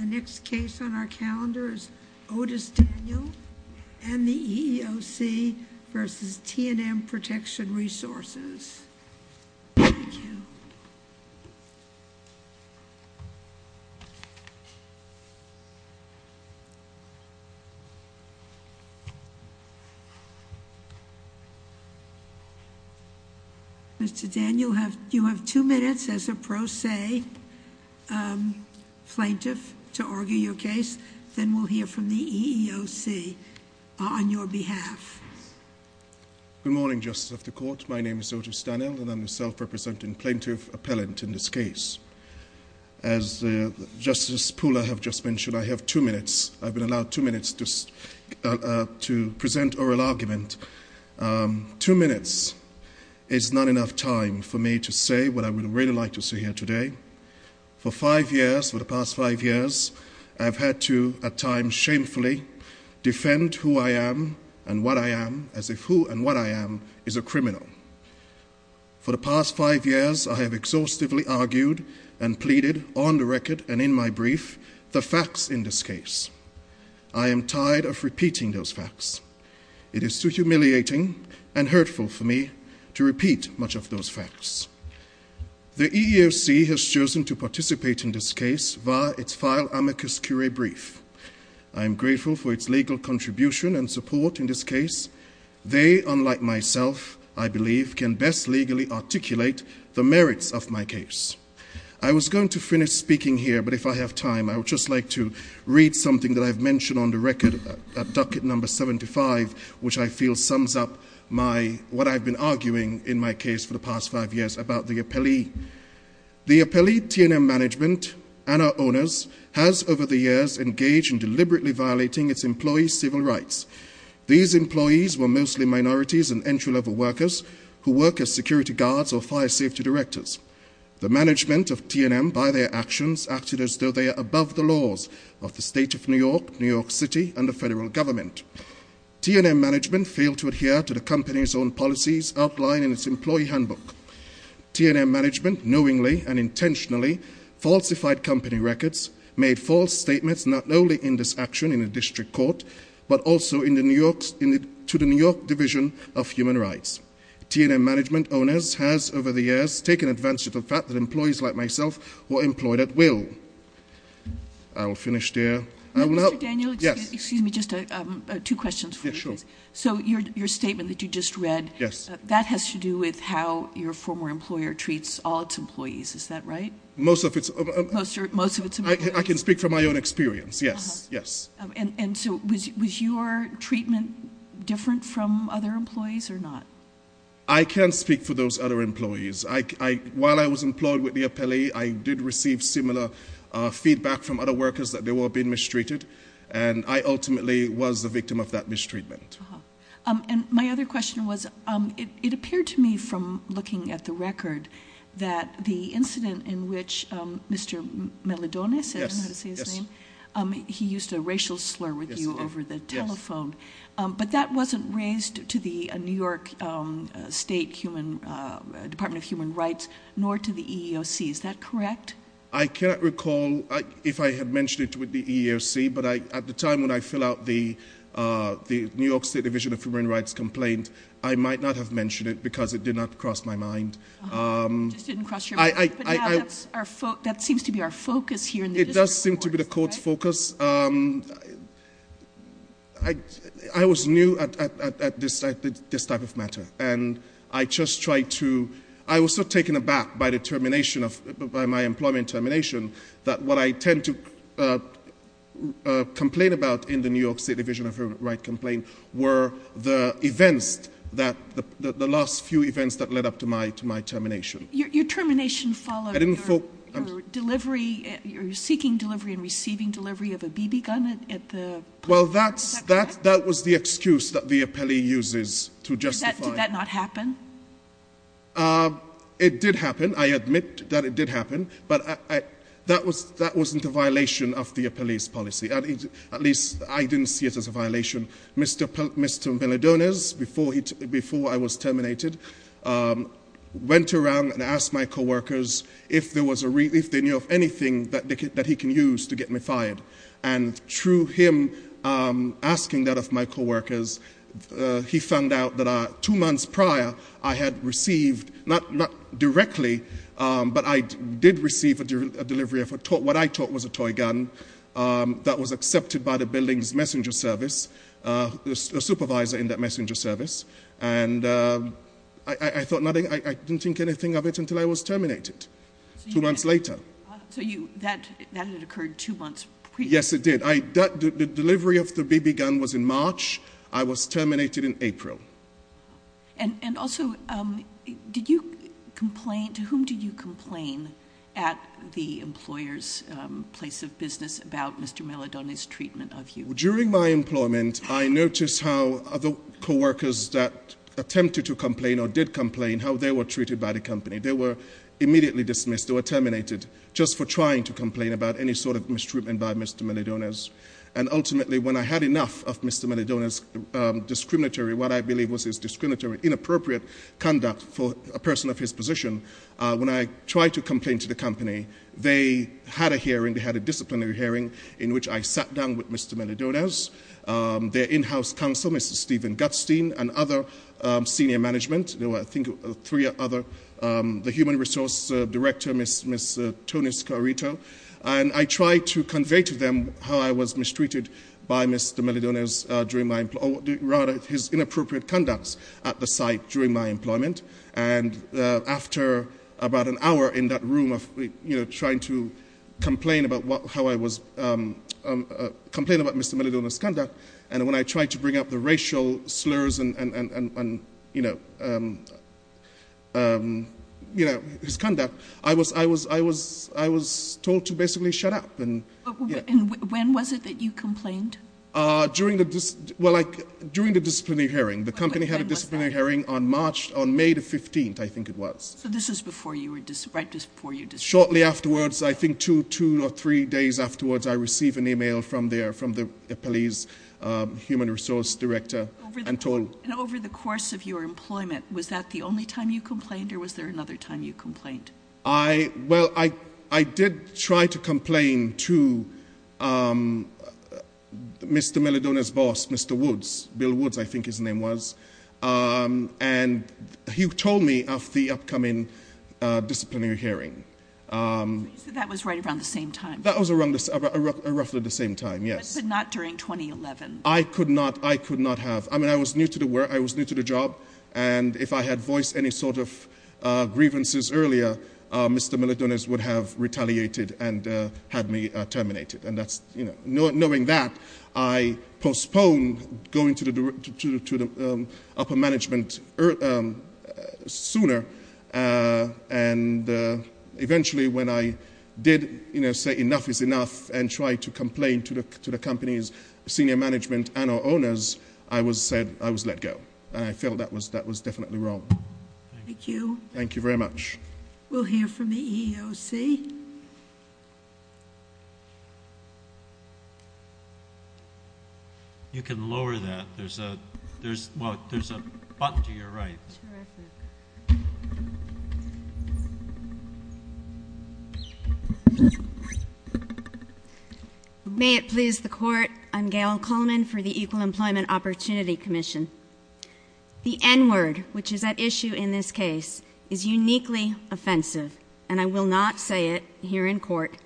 The next case on our calendar is Otis Daniel and the EEOC v. T&M Protection Resources. Thank you. Mr. Daniel, you have two minutes as a pro se plaintiff to argue your case. Then we'll hear from the EEOC on your behalf. Good morning, Justice of the Court. My name is Otis Daniel, and I'm the self-representing plaintiff appellant in this case. As Justice Pula has just mentioned, I have two minutes. I've been allowed two minutes to present oral argument. Two minutes is not enough time for me to say what I would really like to say here today. For five years, for the past five years, I've had to at times shamefully defend who I am and what I am, as if who and what I am is a criminal. For the past five years, I have exhaustively argued and pleaded on the record and in my brief the facts in this case. I am tired of repeating those facts. It is too humiliating and hurtful for me to repeat much of those facts. The EEOC has chosen to participate in this case via its file amicus curiae brief. I am grateful for its legal contribution and support in this case. They, unlike myself, I believe, can best legally articulate the merits of my case. I was going to finish speaking here, but if I have time, I would just like to read something that I've mentioned on the record, a docket number 75, which I feel sums up what I've been arguing in my case for the past five years about the appellee. The appellee TNM management and our owners has over the years engaged in deliberately violating its employees' civil rights. These employees were mostly minorities and entry-level workers who work as security guards or fire safety directors. The management of TNM by their actions acted as though they are above the laws of the state of New York, New York City, and the federal government. TNM management failed to adhere to the company's own policies outlined in its employee handbook. TNM management knowingly and intentionally falsified company records, made false statements not only in this action in the district court, but also to the New York Division of Human Rights. TNM management owners has over the years taken advantage of the fact that employees like myself were employed at will. I will finish there. Mr. Daniel, excuse me, just two questions for you, please. Yeah, sure. So your statement that you just read, that has to do with how your former employer treats all its employees. Is that right? Most of its employees. I can speak from my own experience, yes, yes. And so was your treatment different from other employees or not? I can't speak for those other employees. While I was employed with the appellee, I did receive similar feedback from other workers that they were being mistreated, and I ultimately was the victim of that mistreatment. And my other question was, it appeared to me from looking at the record that the incident in which Mr. Meledone, I don't know how to say his name, he used a racial slur with you over the telephone. But that wasn't raised to the New York State Department of Human Rights, nor to the EEOC. Is that correct? I can't recall if I had mentioned it with the EEOC, but at the time when I filled out the New York State Division of Human Rights complaint, I might not have mentioned it because it did not cross my mind. It just didn't cross your mind. But now that seems to be our focus here in the district courts, right? It does seem to be the court's focus. I was new at this type of matter. I was so taken aback by my employment termination that what I tend to complain about in the New York State Division of Human Rights complaint were the last few events that led up to my termination. Your termination followed your seeking delivery and receiving delivery of a BB gun at the- Well, that was the excuse that the appellee uses to justify- Did that not happen? It did happen. I admit that it did happen. But that wasn't a violation of the appellee's policy. At least, I didn't see it as a violation. Mr. Melendonez, before I was terminated, went around and asked my co-workers if they knew of anything that he can use to get me fired. And through him asking that of my co-workers, he found out that two months prior, I had received- Not directly, but I did receive a delivery of what I thought was a toy gun that was accepted by the building's messenger service, a supervisor in that messenger service. And I didn't think anything of it until I was terminated two months later. So that had occurred two months prior? Yes, it did. The delivery of the BB gun was in March. I was terminated in April. And also, to whom did you complain at the employer's place of business about Mr. Melendonez's treatment of you? During my employment, I noticed how other co-workers that attempted to complain or did complain, how they were treated by the company. They were immediately dismissed or terminated just for trying to complain about any sort of mistreatment by Mr. Melendonez. And ultimately, when I had enough of Mr. Melendonez's discriminatory, what I believe was his discriminatory, inappropriate conduct for a person of his position, when I tried to complain to the company, they had a hearing, they had a disciplinary hearing, in which I sat down with Mr. Melendonez, their in-house counsel, Mr. Steven Gutstein, and other senior management. There were, I think, three other, the human resource director, Ms. Tony Scarito. And I tried to convey to them how I was mistreated by Mr. Melendonez during my, or rather, his inappropriate conducts at the site during my employment. And after about an hour in that room of trying to complain about how I was, complain about Mr. Melendonez's conduct, and when I tried to bring up the racial slurs and his conduct, I was told to basically shut up. And when was it that you complained? During the, well, like, during the disciplinary hearing. The company had a disciplinary hearing on March, on May the 15th, I think it was. So this was before you were, right just before you disappeared. Shortly afterwards, I think two, two or three days afterwards, I received an email from there, from the police human resource director, and told. And over the course of your employment, was that the only time you complained, or was there another time you complained? I, well, I, I did try to complain to Mr. Melendonez's boss, Mr. Woods, Bill Woods, I think his name was. And he told me of the upcoming disciplinary hearing. So that was right around the same time? That was around the, roughly the same time, yes. But not during 2011? I could not, I could not have. I mean, I was new to the work, I was new to the job. And if I had voiced any sort of grievances earlier, Mr. Melendonez would have retaliated and had me terminated. And that's, you know, knowing that, I postponed going to the, to the upper management sooner. And eventually, when I did, you know, say enough is enough, and tried to complain to the, to the company's senior management and our owners, I was said, I was let go. And I felt that was, that was definitely wrong. Thank you. Thank you very much. We'll hear from the EEOC. You can lower that, there's a, there's, well, there's a button to your right. Terrific. May it please the Court, I'm Gail Coleman for the Equal Employment Opportunity Commission. The N-word, which is at issue in this case, is uniquely offensive, and I will not say it here in court.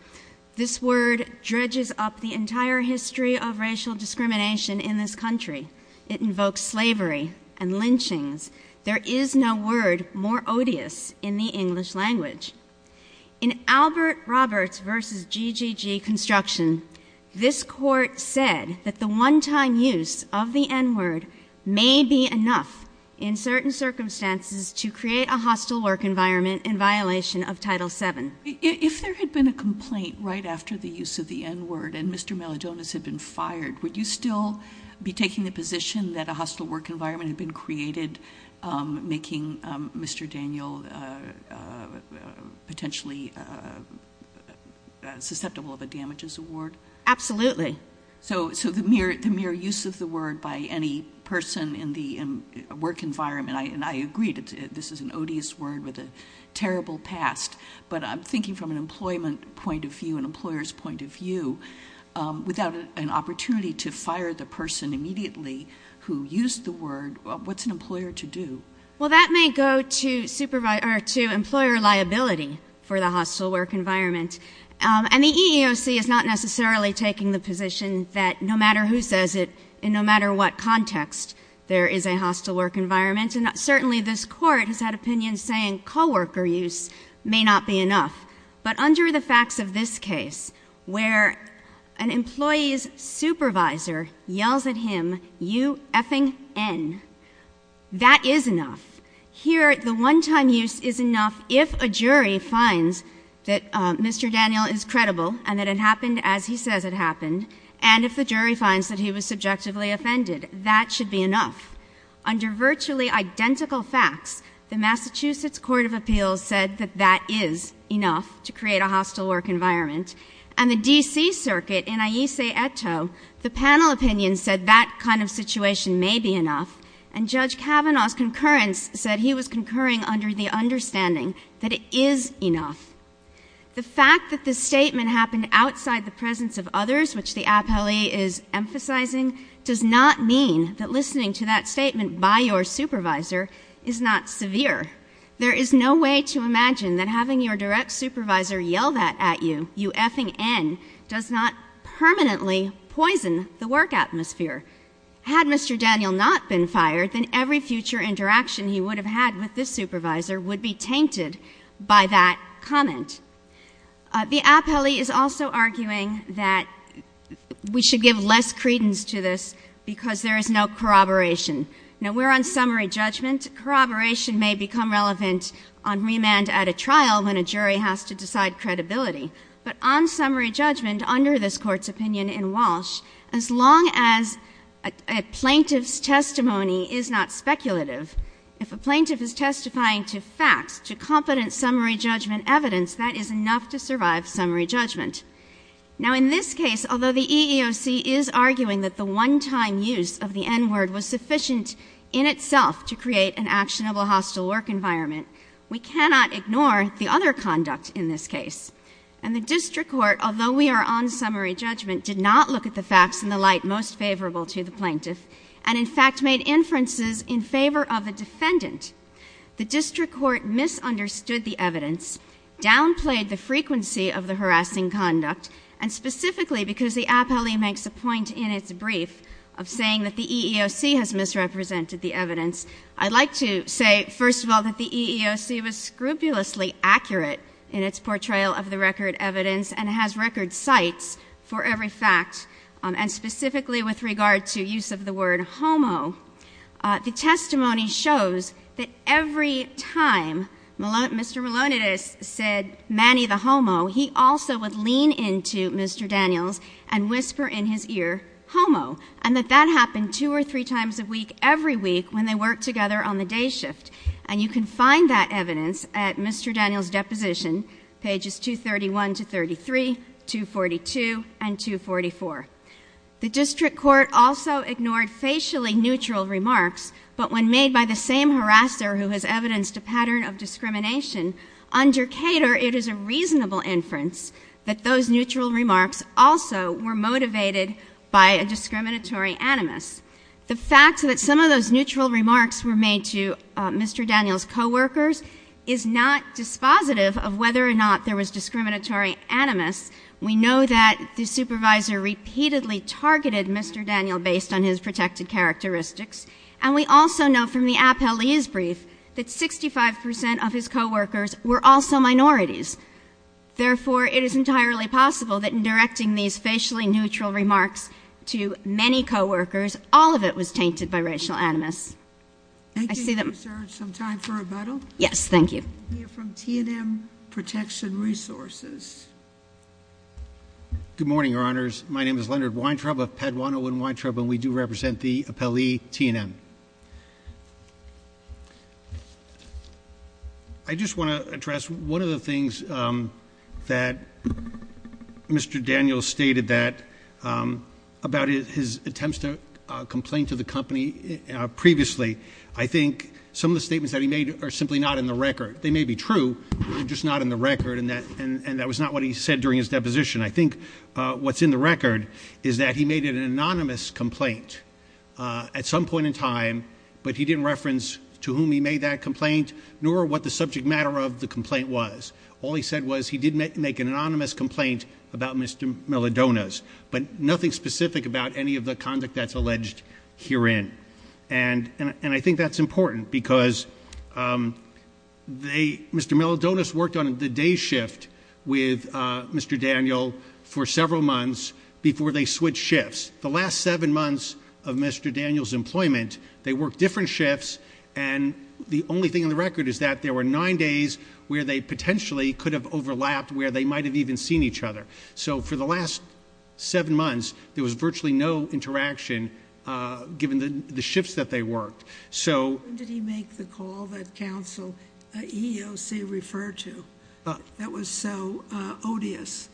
This word dredges up the entire history of racial discrimination in this country. It invokes slavery and lynchings. There is no word more odious in the English language. In Albert Roberts v. GGG Construction, this Court said that the one-time use of the N-word may be enough in certain circumstances to create a hostile work environment in violation of Title VII. If there had been a complaint right after the use of the N-word and Mr. Melodonis had been fired, would you still be taking the position that a hostile work environment had been created, making Mr. Daniel potentially susceptible of a damages award? Absolutely. So the mere use of the word by any person in the work environment, and I agree that this is an odious word with a terrible past, but I'm thinking from an employment point of view, an employer's point of view, without an opportunity to fire the person immediately who used the word, what's an employer to do? Well, that may go to employer liability for the hostile work environment. And the EEOC is not necessarily taking the position that no matter who says it, in no matter what context, there is a hostile work environment, and certainly this Court has had opinions saying co-worker use may not be enough. But under the facts of this case, where an employee's supervisor yells at him, that is enough. Here, the one-time use is enough if a jury finds that Mr. Daniel is credible and that it happened as he says it happened, and if the jury finds that he was subjectively offended. That should be enough. Under virtually identical facts, the Massachusetts Court of Appeals said that that is enough to create a hostile work environment, and the D.C. Circuit in Ayse Etto, the panel opinion said that kind of situation may be enough, and Judge Kavanaugh's concurrence said he was concurring under the understanding that it is enough. The fact that this statement happened outside the presence of others, which the appellee is emphasizing, does not mean that listening to that statement by your supervisor is not severe. There is no way to imagine that having your direct supervisor yell that at you, you effing N, does not permanently poison the work atmosphere. Had Mr. Daniel not been fired, then every future interaction he would have had with this supervisor would be tainted by that comment. The appellee is also arguing that we should give less credence to this because there is no corroboration. Now, we're on summary judgment. Corroboration may become relevant on remand at a trial when a jury has to decide credibility, but on summary judgment under this Court's opinion in Walsh, as long as a plaintiff's testimony is not speculative, if a plaintiff is testifying to facts, to competent summary judgment evidence, that is enough to survive summary judgment. Now, in this case, although the EEOC is arguing that the one-time use of the N-word was sufficient in itself to create an actionable hostile work environment, we cannot ignore the other conduct in this case. And the district court, although we are on summary judgment, did not look at the facts in the light most favorable to the plaintiff and, in fact, made inferences in favor of the defendant. The district court misunderstood the evidence, downplayed the frequency of the harassing conduct, and specifically because the appellee makes a point in its brief of saying that the EEOC has misrepresented the evidence, I'd like to say, first of all, that the EEOC was scrupulously accurate in its portrayal of the record evidence and has record cites for every fact, and specifically with regard to use of the word homo. The testimony shows that every time Mr. Malonides said, Manny the homo, he also would lean into Mr. Daniels and whisper in his ear, homo, and that that happened two or three times a week every week when they worked together on the day shift. And you can find that evidence at Mr. Daniels' deposition, pages 231 to 33, 242, and 244. The district court also ignored facially neutral remarks, but when made by the same harasser who has evidenced a pattern of discrimination, under Cater it is a reasonable inference that those neutral remarks also were motivated by a discriminatory animus. The fact that some of those neutral remarks were made to Mr. Daniels' coworkers is not dispositive of whether or not there was discriminatory animus. We know that the supervisor repeatedly targeted Mr. Daniels based on his protected characteristics, and we also know from the appellee's brief that 65 percent of his coworkers were also minorities. Therefore, it is entirely possible that in directing these facially neutral remarks to many coworkers, all of it was tainted by racial animus. Thank you. Is there some time for rebuttal? Yes, thank you. We have from T&M Protection Resources. Good morning, Your Honors. My name is Leonard Weintraub of Padawan Owen Weintraub, and we do represent the appellee T&M. I just want to address one of the things that Mr. Daniels stated about his attempts to complain to the company previously. I think some of the statements that he made are simply not in the record. They may be true, but they're just not in the record, and that was not what he said during his deposition. I think what's in the record is that he made an anonymous complaint at some point in time, but he didn't reference to whom he made that complaint nor what the subject matter of the complaint was. All he said was he did make an anonymous complaint about Mr. Milodonos, but nothing specific about any of the conduct that's alleged herein. And I think that's important because Mr. Milodonos worked on the day shift with Mr. Daniel for several months before they switched shifts. The last seven months of Mr. Daniels' employment, they worked different shifts, and the only thing in the record is that there were nine days where they potentially could have overlapped, where they might have even seen each other. So for the last seven months, there was virtually no interaction given the shifts that they worked. When did he make the call that counsel EEOC referred to that was so odious?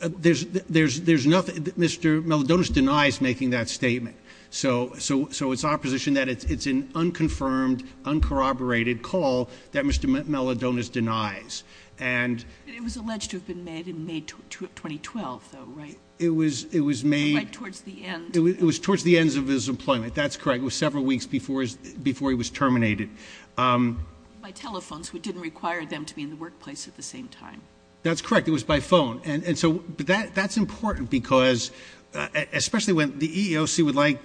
Mr. Milodonos denies making that statement, so it's our position that it's an unconfirmed, uncorroborated call that Mr. Milodonos denies. It was alleged to have been made in May 2012, though, right? It was made- Right towards the end. It was towards the end of his employment, that's correct. It was several weeks before he was terminated. By telephone, so it didn't require them to be in the workplace at the same time. That's correct. It was by phone. And so that's important because, especially when the EEOC would like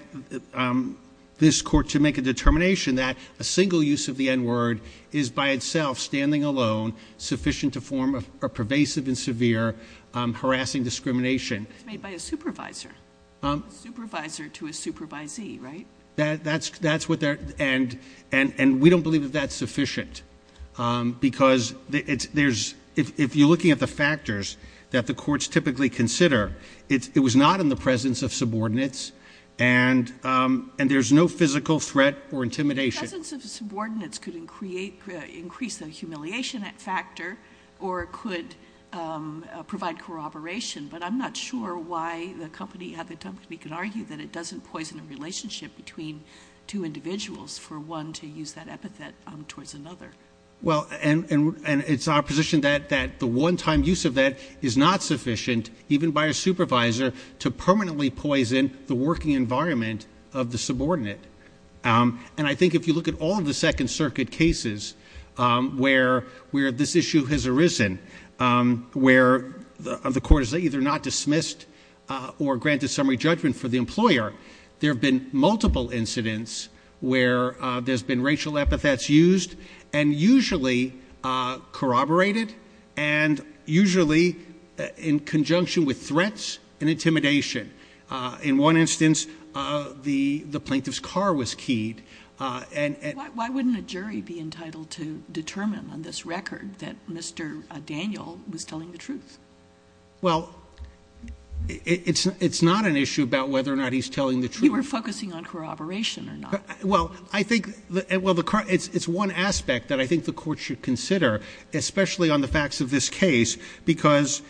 this court to make a determination that a single use of the N-word is by itself, standing alone, sufficient to form a pervasive and severe harassing discrimination. It was made by a supervisor. A supervisor to a supervisee, right? That's what they're- and we don't believe that that's sufficient because if you're looking at the factors that the courts typically consider, it was not in the presence of subordinates and there's no physical threat or intimidation. The presence of subordinates could increase the humiliation factor or could provide corroboration, but I'm not sure why the company could argue that it doesn't poison a relationship between two individuals for one to use that epithet towards another. Well, and it's our position that the one-time use of that is not sufficient, even by a supervisor, to permanently poison the working environment of the subordinate. And I think if you look at all of the Second Circuit cases where this issue has arisen, where the court has either not dismissed or granted summary judgment for the employer, there have been multiple incidents where there's been racial epithets used and usually corroborated and usually in conjunction with threats and intimidation. In one instance, the plaintiff's car was keyed and- Why wouldn't a jury be entitled to determine on this record that Mr. Daniel was telling the truth? Well, it's not an issue about whether or not he's telling the truth. You were focusing on corroboration or not. Well, I think it's one aspect that I think the court should consider, especially on the facts of this case, because,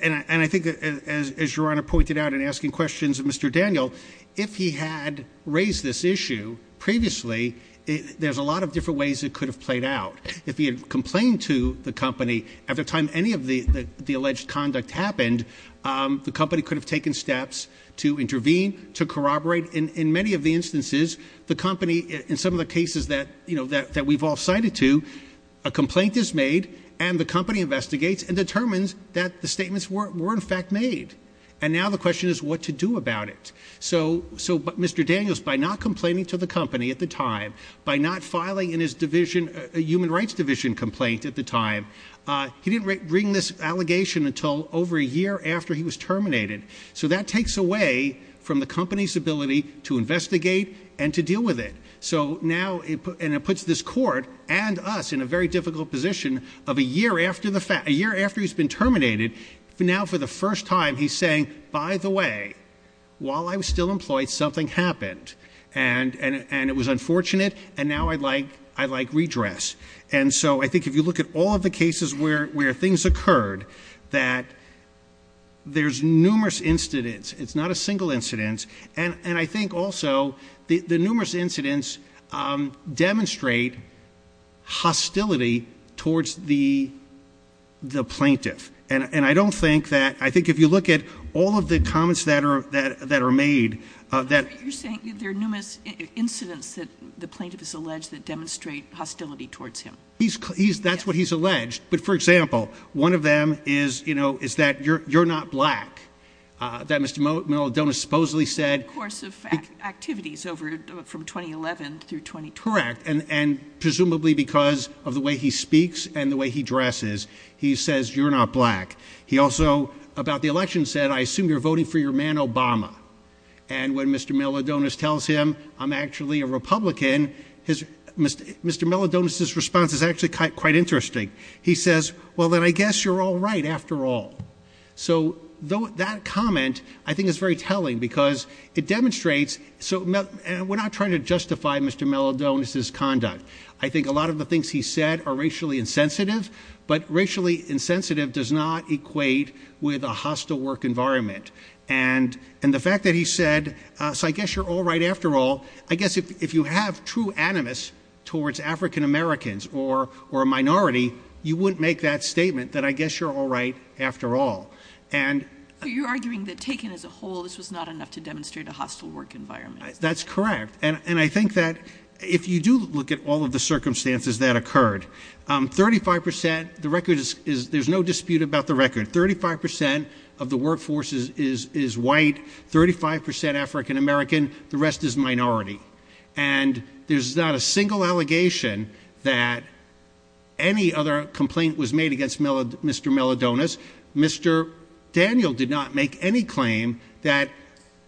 and I think as Your Honor pointed out in asking questions of Mr. Daniel, if he had raised this issue previously, there's a lot of different ways it could have played out. If he had complained to the company at the time any of the alleged conduct happened, the company could have taken steps to intervene, to corroborate. In many of the instances, the company, in some of the cases that we've all cited to, a complaint is made and the company investigates and determines that the statements were in fact made. And now the question is what to do about it. So Mr. Daniels, by not complaining to the company at the time, by not filing in his human rights division complaint at the time, he didn't bring this allegation until over a year after he was terminated. So that takes away from the company's ability to investigate and to deal with it. So now, and it puts this court and us in a very difficult position of a year after he's been terminated, now for the first time he's saying, by the way, while I was still employed, something happened. And it was unfortunate, and now I'd like redress. And so I think if you look at all of the cases where things occurred, that there's numerous incidents. It's not a single incident. And I think also the numerous incidents demonstrate hostility towards the plaintiff. And I don't think that, I think if you look at all of the comments that are made. You're saying there are numerous incidents that the plaintiff has alleged that demonstrate hostility towards him. That's what he's alleged. But for example, one of them is that you're not black. That Mr. Manola-Dona supposedly said. In the course of activities from 2011 through 2012. Correct. And presumably because of the way he speaks and the way he dresses. He says, you're not black. He also, about the election said, I assume you're voting for your man Obama. And when Mr. Manola-Dona tells him, I'm actually a Republican. Mr. Manola-Dona's response is actually quite interesting. He says, well then I guess you're all right after all. So that comment, I think is very telling. Because it demonstrates, so we're not trying to justify Mr. Manola-Dona's conduct. I think a lot of the things he said are racially insensitive. But racially insensitive does not equate with a hostile work environment. And the fact that he said, so I guess you're all right after all. I guess if you have true animus towards African Americans or a minority. You wouldn't make that statement that I guess you're all right after all. You're arguing that taken as a whole, this was not enough to demonstrate a hostile work environment. That's correct. And I think that if you do look at all of the circumstances that occurred. 35%, the record is, there's no dispute about the record. 35% of the workforce is white. 35% African American. The rest is minority. And there's not a single allegation that any other complaint was made against Mr. Manola-Dona's. Mr. Daniel did not make any claim that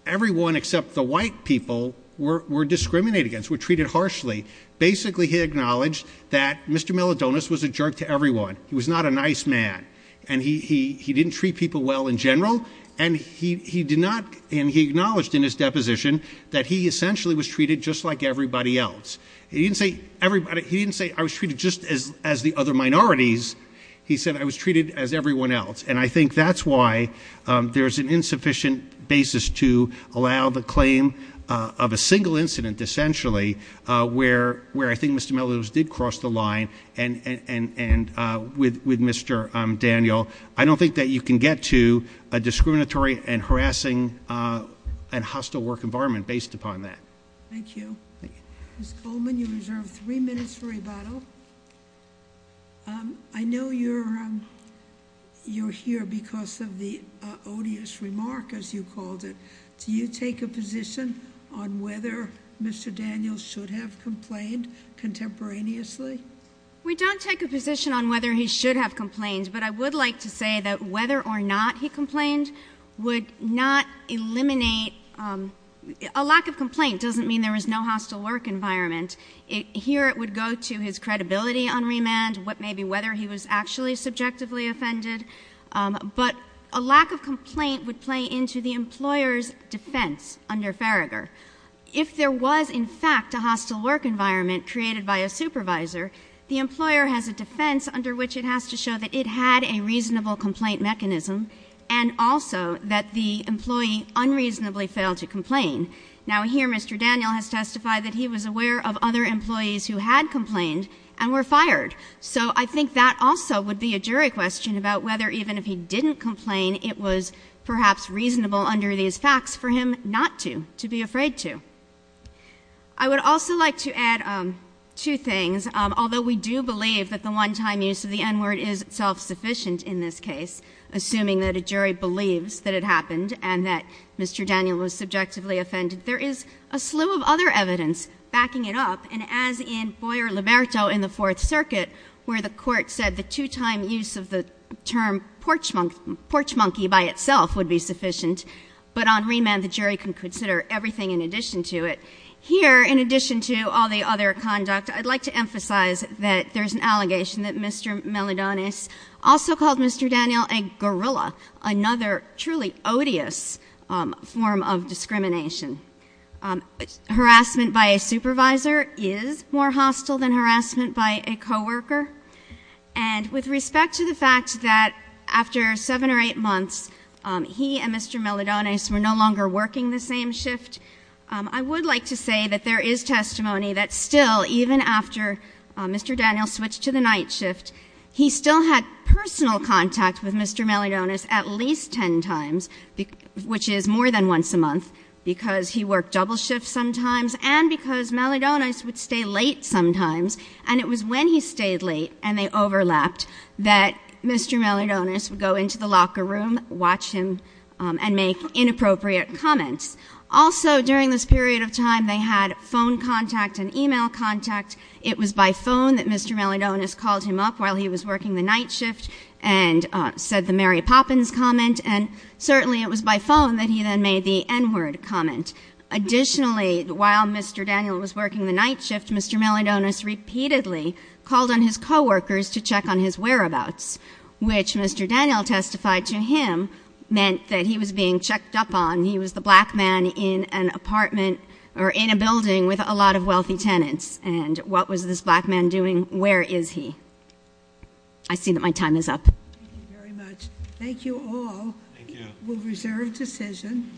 everyone except the white people were discriminated against. Were treated harshly. Basically he acknowledged that Mr. Manola-Dona's was a jerk to everyone. He was not a nice man. And he didn't treat people well in general. And he did not, and he acknowledged in his deposition that he essentially was treated just like everybody else. He didn't say I was treated just as the other minorities. He said I was treated as everyone else. And I think that's why there's an insufficient basis to allow the claim of a single incident, essentially, where I think Mr. Manola-Dona's did cross the line with Mr. Daniel. I don't think that you can get to a discriminatory and harassing and hostile work environment based upon that. Thank you. Ms. Goldman, you reserve three minutes for rebuttal. I know you're here because of the odious remark, as you called it. Do you take a position on whether Mr. Daniel should have complained contemporaneously? We don't take a position on whether he should have complained, but I would like to say that whether or not he complained would not eliminate. A lack of complaint doesn't mean there is no hostile work environment. Here it would go to his credibility on remand, maybe whether he was actually subjectively offended. But a lack of complaint would play into the employer's defense under Farragher. If there was, in fact, a hostile work environment created by a supervisor, the employer has a defense under which it has to show that it had a reasonable complaint mechanism and also that the employee unreasonably failed to complain. Now, here Mr. Daniel has testified that he was aware of other employees who had complained and were fired. So I think that also would be a jury question about whether even if he didn't complain, it was perhaps reasonable under these facts for him not to, to be afraid to. I would also like to add two things. Although we do believe that the one-time use of the N-word is self-sufficient in this case, assuming that a jury believes that it happened and that Mr. Daniel was subjectively offended, there is a slew of other evidence backing it up. And as in Boyer-Liberto in the Fourth Circuit, where the Court said the two-time use of the term porch monkey by itself would be sufficient, but on remand the jury can consider everything in addition to it. Here, in addition to all the other conduct, I'd like to emphasize that there's an allegation that Mr. Daniel, a gorilla, another truly odious form of discrimination. Harassment by a supervisor is more hostile than harassment by a co-worker. And with respect to the fact that after seven or eight months, he and Mr. Melodonis were no longer working the same shift. I would like to say that there is testimony that still, even after Mr. Melodonis moved to the night shift, he still had personal contact with Mr. Melodonis at least ten times, which is more than once a month, because he worked double shifts sometimes, and because Melodonis would stay late sometimes. And it was when he stayed late and they overlapped that Mr. Melodonis would go into the locker room, watch him, and make inappropriate comments. Also, during this period of time, they had phone contact and e-mail contact. It was by phone that Mr. Melodonis called him up while he was working the night shift and said the Mary Poppins comment, and certainly it was by phone that he then made the N-word comment. Additionally, while Mr. Daniel was working the night shift, Mr. Melodonis repeatedly called on his co-workers to check on his whereabouts, which Mr. Daniel testified to him meant that he was being checked up on. He was the black man in an apartment or in a building with a lot of wealthy tenants. And what was this black man doing? Where is he? I see that my time is up. Thank you very much. Thank you all. We'll reserve decision.